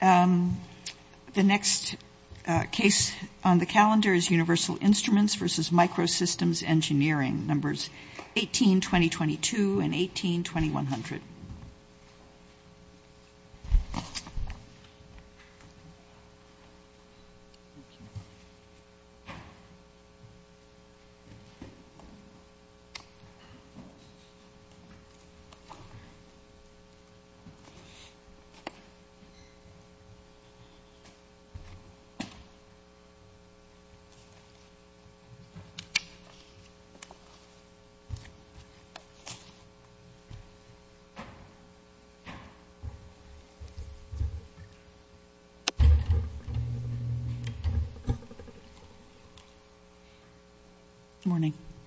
The next case on the calendar is Universal Instruments v. Microsystems Engineering, numbers 18-2022 and 18-2100.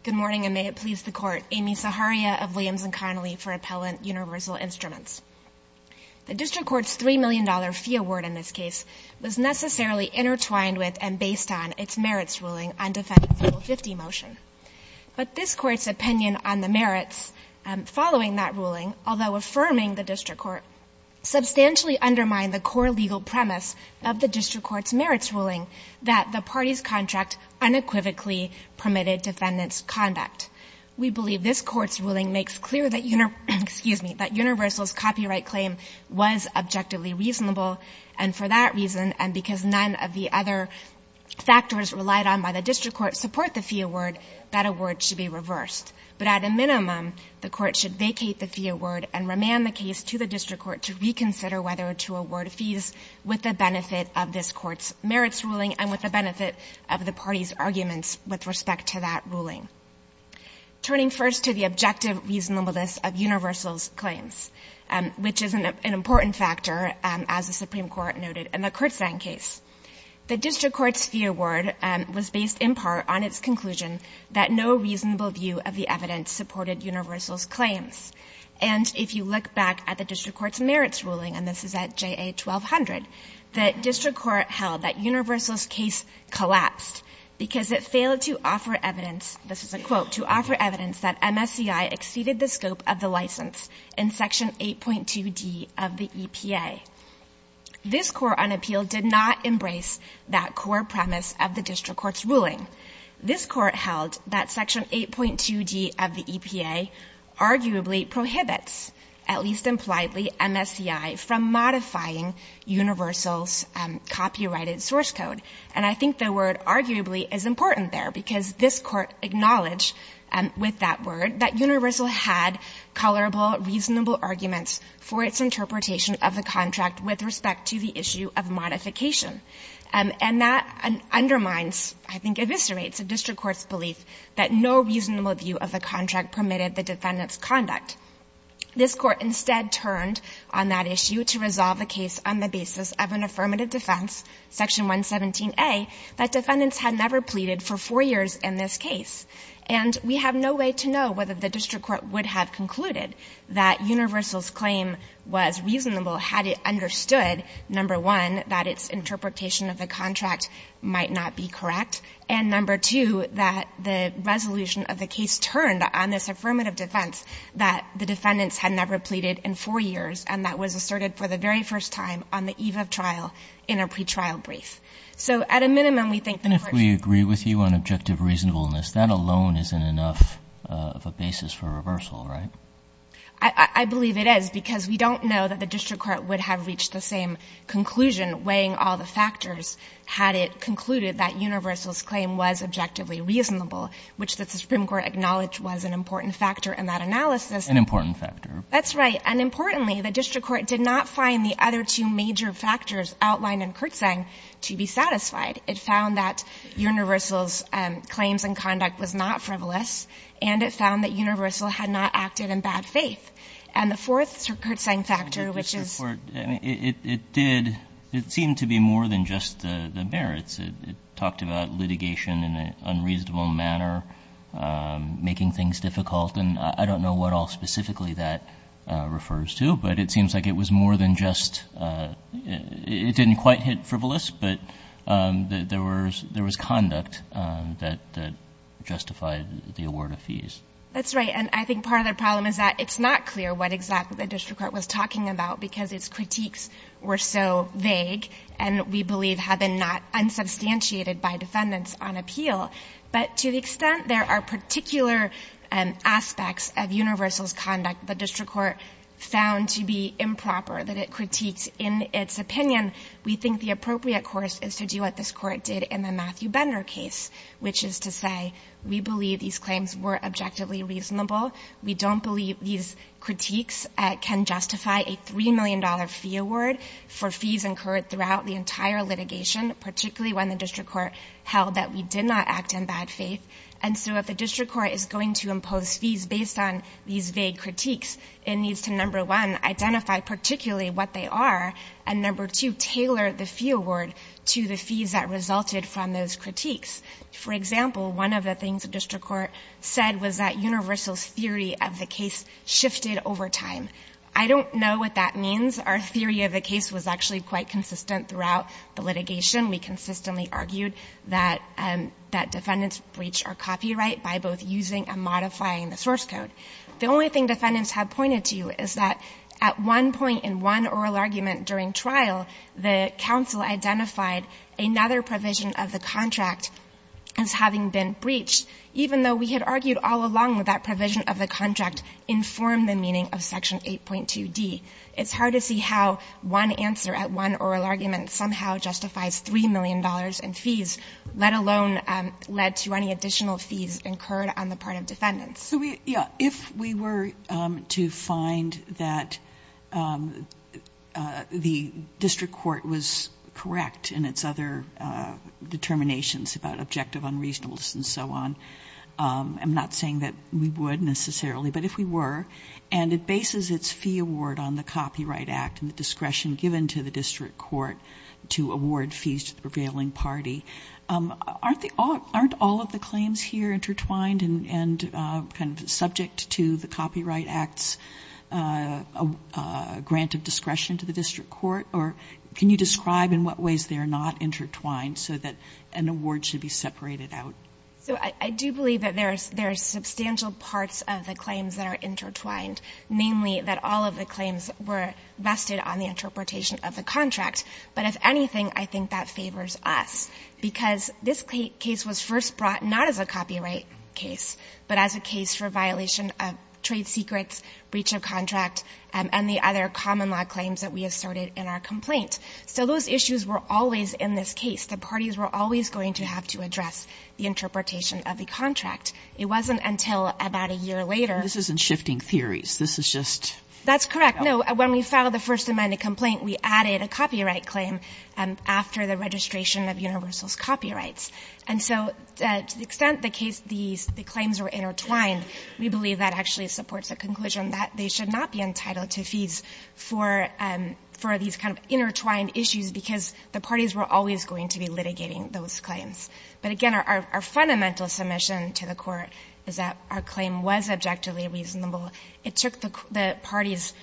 Good morning and may it please the court, Amy Saharia of Williams and Connolly for Appellant Universal Instruments. The district court's $3 million fee award in this case was necessarily intertwined with and based on its merits ruling on Defendant's Rule 50 motion, but this court's opinion on the merits following that ruling, although affirming the district court, substantially undermined the core legal premise of the district court's merits ruling that the party's contract unequivocally permitted defendants' conduct. We believe this court's ruling makes clear that Universal's copyright claim was objectively reasonable, and for that reason, and because none of the other factors relied on by the district court support the fee award, that award should be reversed. But at a minimum, the court should vacate the fee award and remand the case to the district court to reconsider whether to award fees with the benefit of this court's merits ruling and with the benefit of the party's arguments with respect to that ruling. Turning first to the objective reasonableness of Universal's claims, which is an important factor, as the Supreme Court noted, in the Kurtzine case, the district court's fee award was based in part on its conclusion that no reasonable view of the evidence supported Universal's claims. And if you look back at the district court's merits ruling, and this is at JA 1200, the district court held that Universal's case collapsed because it failed to offer evidence, this is a quote, to offer evidence that MSCI exceeded the scope of the license in Section 8.2d of the EPA. This court on appeal did not embrace that core premise of the district court's ruling. This court held that Section 8.2d of the EPA arguably prohibits, at least impliedly, MSCI from modifying Universal's copyrighted source code. And I think the word arguably is important there, because this court acknowledged with that word that Universal had colorable, reasonable arguments for its interpretation of the contract with respect to the issue of modification. And that undermines, I think eviscerates, the district court's belief that no reasonable view of the contract permitted the defendant's conduct. This court instead turned on that issue to resolve the case on the basis of an affirmative defense, Section 117a, that defendants had never pleaded for 4 years in this case. And we have no way to know whether the district court would have concluded that Universal's interpretation of the contract might not be correct, and number two, that the resolution of the case turned on this affirmative defense that the defendants had never pleaded in 4 years, and that was asserted for the very first time on the eve of trial in a pretrial brief. So at a minimum, we think that if we agree with you on objective reasonableness, that alone isn't enough of a basis for reversal, right? I believe it is, because we don't know that the district court would have reached the same conclusion weighing all the factors had it concluded that Universal's claim was objectively reasonable, which the Supreme Court acknowledged was an important factor in that analysis. An important factor. That's right. And importantly, the district court did not find the other two major factors outlined in Kertzang to be satisfied. It found that Universal's claims and conduct was not frivolous, and it found that Universal had not acted in bad faith. And the fourth, sir, Kertzang factor, which is. The district court, I mean, it did, it seemed to be more than just the merits. It talked about litigation in an unreasonable manner, making things difficult, and I don't know what all specifically that refers to, but it seems like it was more than just, it didn't quite hit frivolous, but there was conduct that justified the award of fees. That's right. And I think part of the problem is that it's not clear what exactly the district court was talking about because its critiques were so vague, and we believe had been not unsubstantiated by defendants on appeal. But to the extent there are particular aspects of Universal's conduct the district court found to be improper that it critiques in its opinion, we think the appropriate course is to do what this court did in the Matthew Bender case, which is to say we don't believe these claims were objectively reasonable. We don't believe these critiques can justify a $3 million fee award for fees incurred throughout the entire litigation, particularly when the district court held that we did not act in bad faith. And so if the district court is going to impose fees based on these vague critiques, it needs to, number one, identify particularly what they are, and number two, tailor the fee award to the fees that resulted from those critiques. For example, one of the things the district court said was that Universal's theory of the case shifted over time. I don't know what that means. Our theory of the case was actually quite consistent throughout the litigation. We consistently argued that defendants breached our copyright by both using and modifying the source code. The only thing defendants have pointed to is that at one point in one oral argument during trial, the counsel identified another provision of the contract as having been breached, even though we had argued all along that that provision of the contract informed the meaning of Section 8.2d. It's hard to see how one answer at one oral argument somehow justifies $3 million in fees, let alone led to any additional fees incurred on the part of defendants. If we were to find that the district court was correct in its other determinations about objective unreasonableness and so on, I'm not saying that we would necessarily, but if we were, and it bases its fee award on the Copyright Act and the discretion given to the district court to award fees to the prevailing party, aren't all of the claims kind of subject to the Copyright Act's grant of discretion to the district court? Or can you describe in what ways they are not intertwined so that an award should be separated out? So I do believe that there are substantial parts of the claims that are intertwined, namely that all of the claims were vested on the interpretation of the contract. But if anything, I think that favors us, because this case was first brought not as a copyright case, but as a case for violation of trade secrets, breach of contract, and the other common law claims that we asserted in our complaint. So those issues were always in this case. The parties were always going to have to address the interpretation of the contract. It wasn't until about a year later — This isn't shifting theories. This is just — That's correct. No. When we filed the First Amendment complaint, we added a copyright claim after the registration of Universal's copyrights. And so to the extent the case — the claims were intertwined, we believe that actually supports the conclusion that they should not be entitled to fees for — for these kind of intertwined issues, because the parties were always going to be litigating those claims. But again, our fundamental submission to the Court is that our claim was objectively reasonable. It took the parties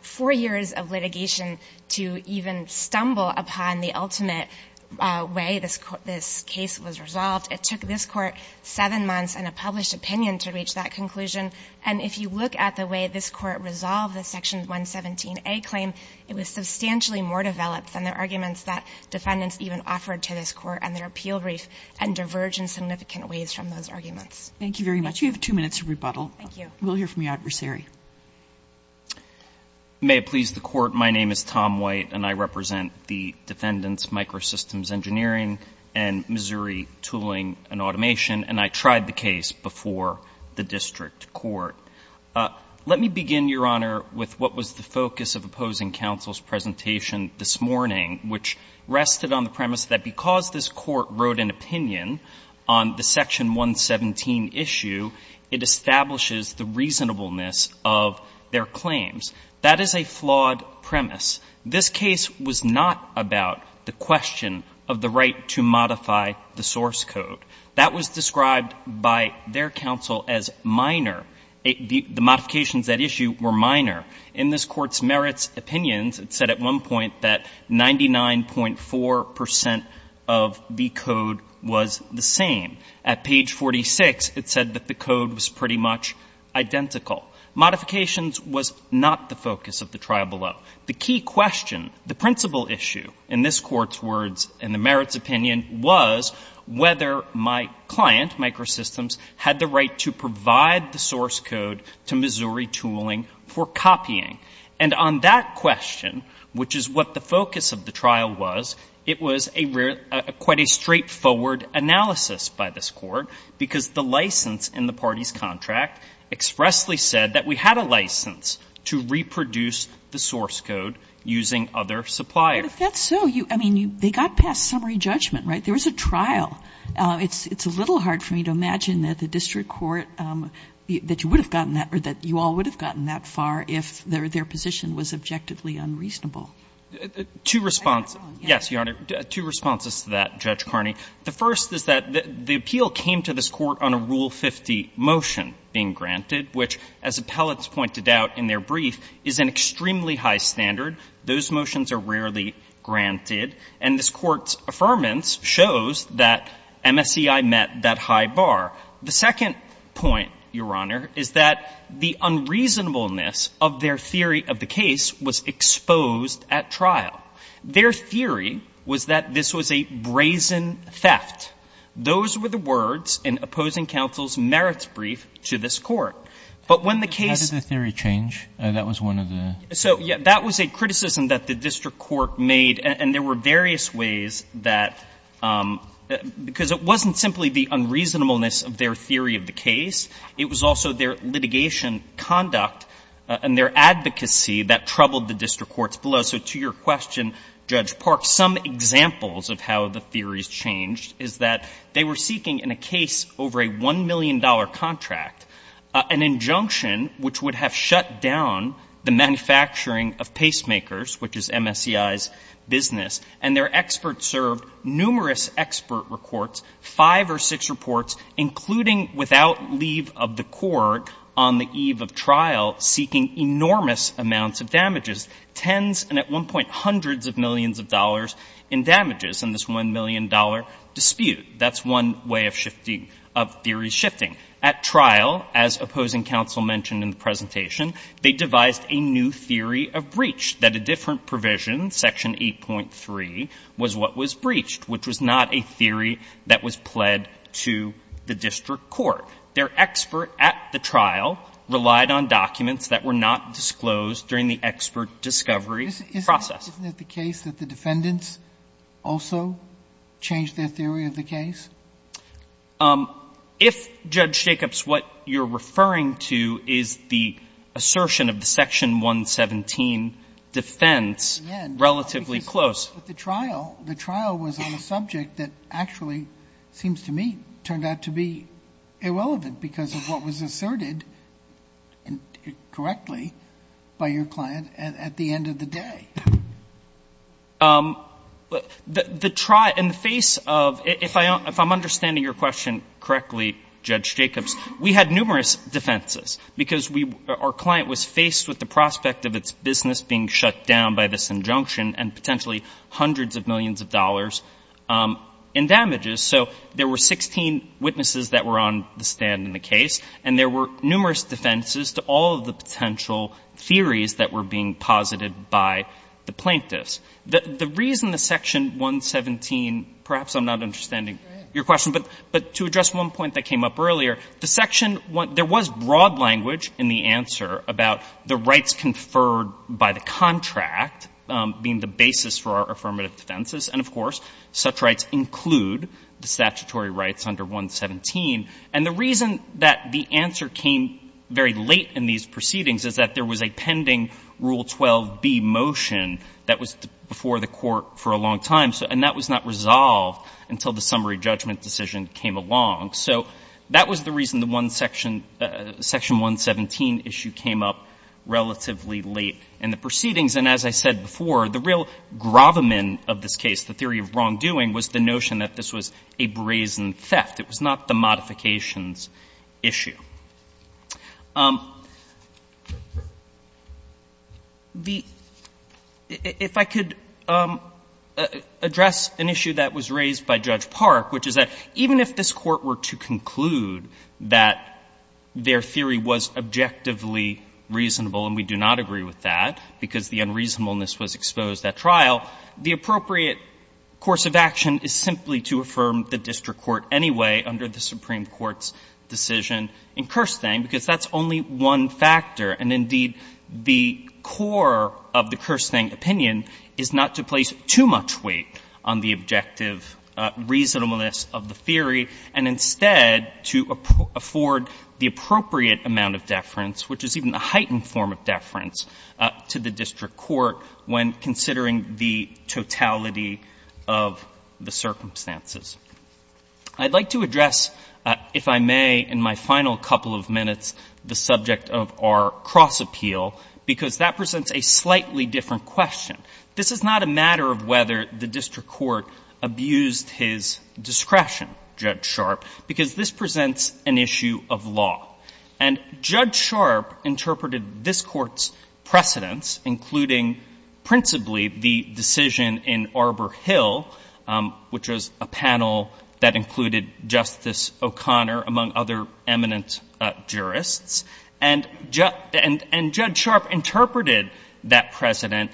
four years of litigation to even stumble upon the ultimate way this case was resolved. It took this Court seven months and a published opinion to reach that conclusion. And if you look at the way this Court resolved the Section 117a claim, it was substantially more developed than the arguments that defendants even offered to this Court and their appeal brief and diverged in significant ways from those arguments. Thank you very much. You have two minutes to rebuttal. Thank you. We'll hear from your adversary. May it please the Court. My name is Tom White, and I represent the Defendants Microsystems Engineering and Missouri Tooling and Automation, and I tried the case before the district court. Let me begin, Your Honor, with what was the focus of opposing counsel's presentation this morning, which rested on the premise that because this Court wrote an opinion on the Section 117 issue, it establishes the reasonableness of their claims. That is a flawed premise. This case was not about the question of the right to modify the source code. That was described by their counsel as minor. The modifications at issue were minor. In this Court's merits opinions, it said at one point that 99.4 percent of the code was the same. At page 46, it said that the code was pretty much identical. Modifications was not the focus of the trial below. The key question, the principal issue, in this Court's words, in the merits opinion, was whether my client, Microsystems, had the right to provide the source code to Missouri Tooling for copying. And on that question, which is what the focus of the trial was, it was a real — quite a straightforward analysis by this Court, because the license in the party's case said that we had a license to reproduce the source code using other suppliers. But if that's so, you — I mean, they got past summary judgment, right? There was a trial. It's a little hard for me to imagine that the district court, that you would have gotten that — or that you all would have gotten that far if their position was objectively unreasonable. Two responses. Yes, Your Honor. Two responses to that, Judge Carney. The first is that the appeal came to this Court on a Rule 50 motion being granted, which, as appellants pointed out in their brief, is an extremely high standard. Those motions are rarely granted. And this Court's affirmance shows that MSCI met that high bar. The second point, Your Honor, is that the unreasonableness of their theory of the case was exposed at trial. Their theory was that this was a brazen theft. Those were the words in opposing counsel's merits brief to this Court. But when the case — How did the theory change? That was one of the — So, yeah, that was a criticism that the district court made. And there were various ways that — because it wasn't simply the unreasonableness of their theory of the case. It was also their litigation conduct and their advocacy that troubled the district courts below. So to your question, Judge Park, some examples of how the theories changed is that they were seeking in a case over a $1 million contract an injunction which would have shut down the manufacturing of pacemakers, which is MSCI's business. And their experts served numerous expert reports, five or six reports, including without leave of the court on the eve of trial, seeking enormous amounts of damages, tens and at one point hundreds of millions of dollars in damages in this $1 million dispute. That's one way of shifting — of theories shifting. At trial, as opposing counsel mentioned in the presentation, they devised a new theory of breach, that a different provision, Section 8.3, was what was breached, which was not a theory that was pled to the district court. Their expert at the trial relied on documents that were not disclosed during the expert discovery process. Isn't it the case that the defendants also changed their theory of the case? If, Judge Jacobs, what you're referring to is the assertion of the Section 117 defense relatively close. Yes. But the trial, the trial was on a subject that actually seems to me turned out to be at the end of the day. The trial — in the face of — if I'm understanding your question correctly, Judge Jacobs, we had numerous defenses, because we — our client was faced with the prospect of its business being shut down by this injunction and potentially hundreds of millions of dollars in damages. So there were 16 witnesses that were on the stand in the case, and there were numerous defenses to all of the potential theories that were being posited by the plaintiffs. The reason the Section 117 — perhaps I'm not understanding your question, but to address one point that came up earlier, the Section — there was broad language in the answer about the rights conferred by the contract being the basis for our affirmative defenses, and, of course, such rights include the statutory rights under 117. And the reason that the answer came very late in these proceedings is that there was a pending Rule 12b motion that was before the Court for a long time, and that was not resolved until the summary judgment decision came along. So that was the reason the one section — Section 117 issue came up relatively late in the proceedings. And as I said before, the real gravamen of this case, the theory of wrongdoing, was the notion that this was a brazen theft. It was not the modifications issue. The — if I could address an issue that was raised by Judge Park, which is that even if this Court were to conclude that their theory was objectively reasonable, and we do not agree with that because the unreasonableness was exposed at trial, the appropriate course of action is simply to affirm the district court anyway under the Supreme Court's decision in Kerstang, because that's only one factor. And, indeed, the core of the Kerstang opinion is not to place too much weight on the objective reasonableness of the theory, and instead to afford the appropriate amount of deference, which is even a heightened form of deference, to the district court when considering the totality of the circumstances. I'd like to address, if I may, in my final couple of minutes, the subject of our cross appeal, because that presents a slightly different question. This is not a matter of whether the district court abused his discretion, Judge Sharp, because this presents an issue of law. And Judge Sharp interpreted this Court's precedents, including principally the decision in Arbor Hill, which was a panel that included Justice O'Connor, among other eminent jurists, and Judge Sharp interpreted that precedent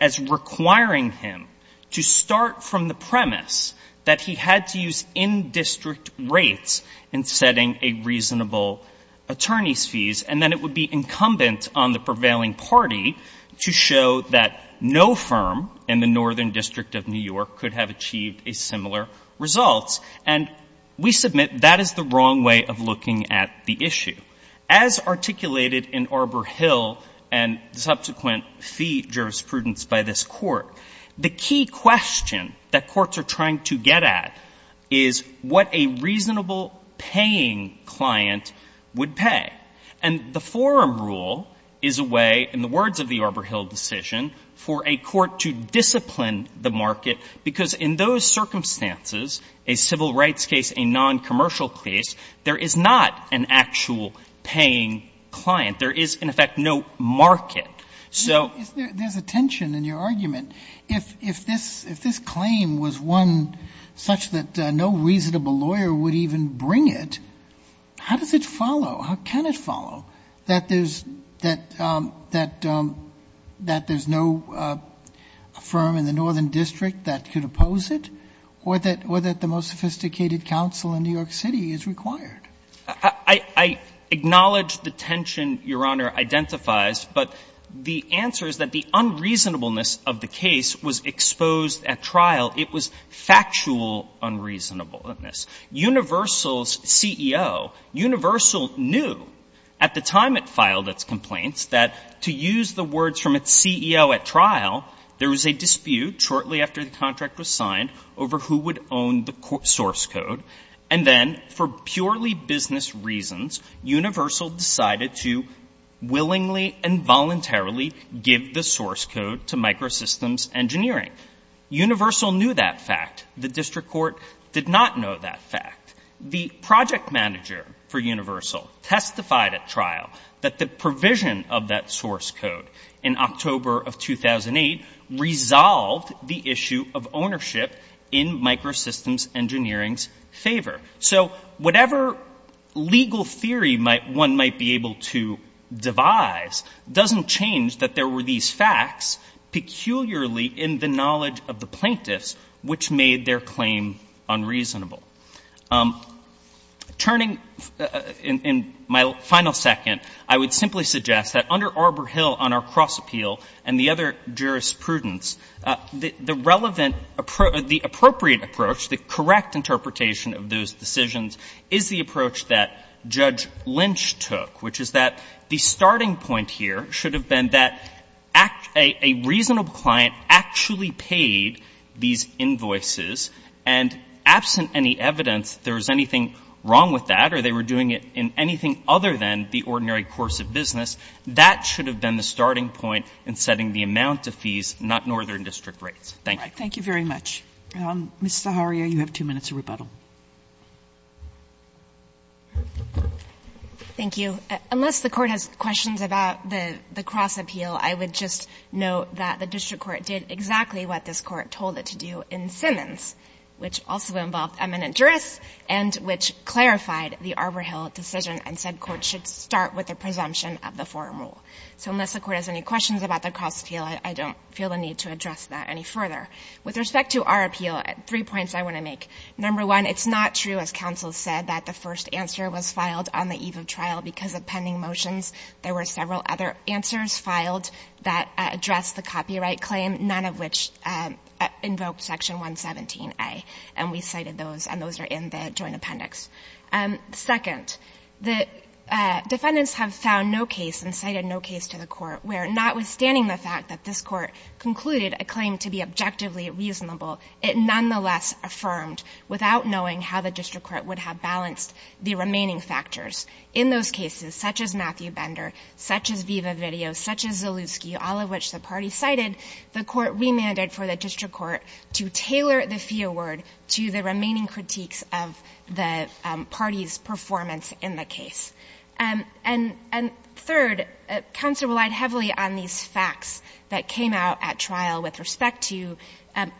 as requiring him to start from the premise that he had to use in-district rates in setting a reasonable attorney's fees, and that it would be incumbent on the prevailing party to show that no firm in the Northern District of New York could have achieved a similar result. And we submit that is the wrong way of looking at the issue. As articulated in Arbor Hill and subsequent fee jurisprudence by this Court, the key question that courts are trying to get at is what a reasonable paying client would pay. And the forum rule is a way, in the words of the Arbor Hill decision, for a court to discipline the market, because in those circumstances, a civil rights case, a noncommercial case, there is not an actual paying client. There is, in effect, no market. There is a tension in your argument. If this claim was one such that no reasonable lawyer would even bring it, how does it follow, how can it follow, that there is no firm in the Northern District that could oppose it, or that the most sophisticated counsel in New York City is required? I acknowledge the tension Your Honor identifies, but the answer is that the unreasonableness of the case was exposed at trial. It was factual unreasonableness. Universal's CEO, Universal knew at the time it filed its complaints that to use the words from its CEO at trial, there was a dispute shortly after the contract was signed over who would own the source code. And then, for purely business reasons, Universal decided to willingly and voluntarily give the source code to Microsystems Engineering. Universal knew that fact. The District Court did not know that fact. The project manager for Universal testified at trial that the provision of that source favor. So whatever legal theory one might be able to devise doesn't change that there were these facts, peculiarly in the knowledge of the plaintiffs, which made their claim unreasonable. Turning in my final second, I would simply suggest that under Arbor Hill on our cross prudence, the relevant, the appropriate approach, the correct interpretation of those decisions is the approach that Judge Lynch took, which is that the starting point here should have been that a reasonable client actually paid these invoices and absent any evidence there was anything wrong with that or they were doing it in anything other than the ordinary course of business. That should have been the starting point in setting the amount of fees, not northern district rates. Thank you. Thank you very much. Ms. Zaharia, you have two minutes of rebuttal. Thank you. Unless the Court has questions about the cross appeal, I would just note that the District Court did exactly what this Court told it to do in Simmons, which also involved eminent jurists and which clarified the Arbor Hill decision and said courts should start with a presumption of the forum rule. So unless the Court has any questions about the cross appeal, I don't feel the need to address that any further. With respect to our appeal, three points I want to make. Number one, it's not true, as counsel said, that the first answer was filed on the eve of trial because of pending motions. There were several other answers filed that addressed the copyright claim, none of which invoked Section 117a, and we cited those, and those are in the joint appendix. Second, the defendants have found no case and cited no case to the Court where, notwithstanding the fact that this Court concluded a claim to be objectively reasonable, it nonetheless affirmed without knowing how the District Court would have balanced the remaining factors. In those cases, such as Matthew Bender, such as Viva Video, such as Zalewski, all of which the party cited, the Court remanded for the District Court to tailor the fee award to the remaining critiques of the party's performance in the case. And third, counsel relied heavily on these facts that came out at trial with respect to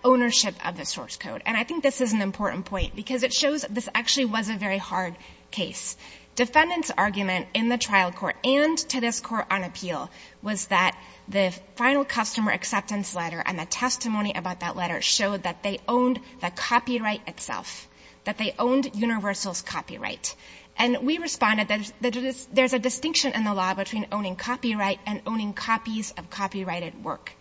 ownership of the source code. And I think this is an important point because it shows this actually was a very hard case. Defendants' argument in the trial court and to this Court on appeal was that the final customer acceptance letter and the testimony about that letter showed that they owned the copyright itself, that they owned Universal's copyright. And we responded that there's a distinction in the law between owning copyright and owning copies of copyrighted work.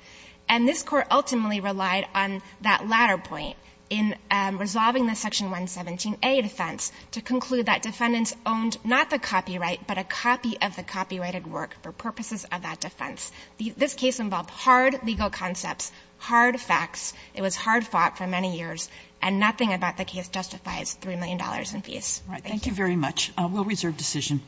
And this Court ultimately relied on that latter point in resolving the Section 117a defense to conclude that defendants owned not the copyright, but a copy of the copyrighted work for purposes of that defense. This case involved hard legal concepts, hard facts. It was hard fought for many years. And nothing about the case justifies $3 million in fees. Thank you. Thank you very much. We'll reserve decision.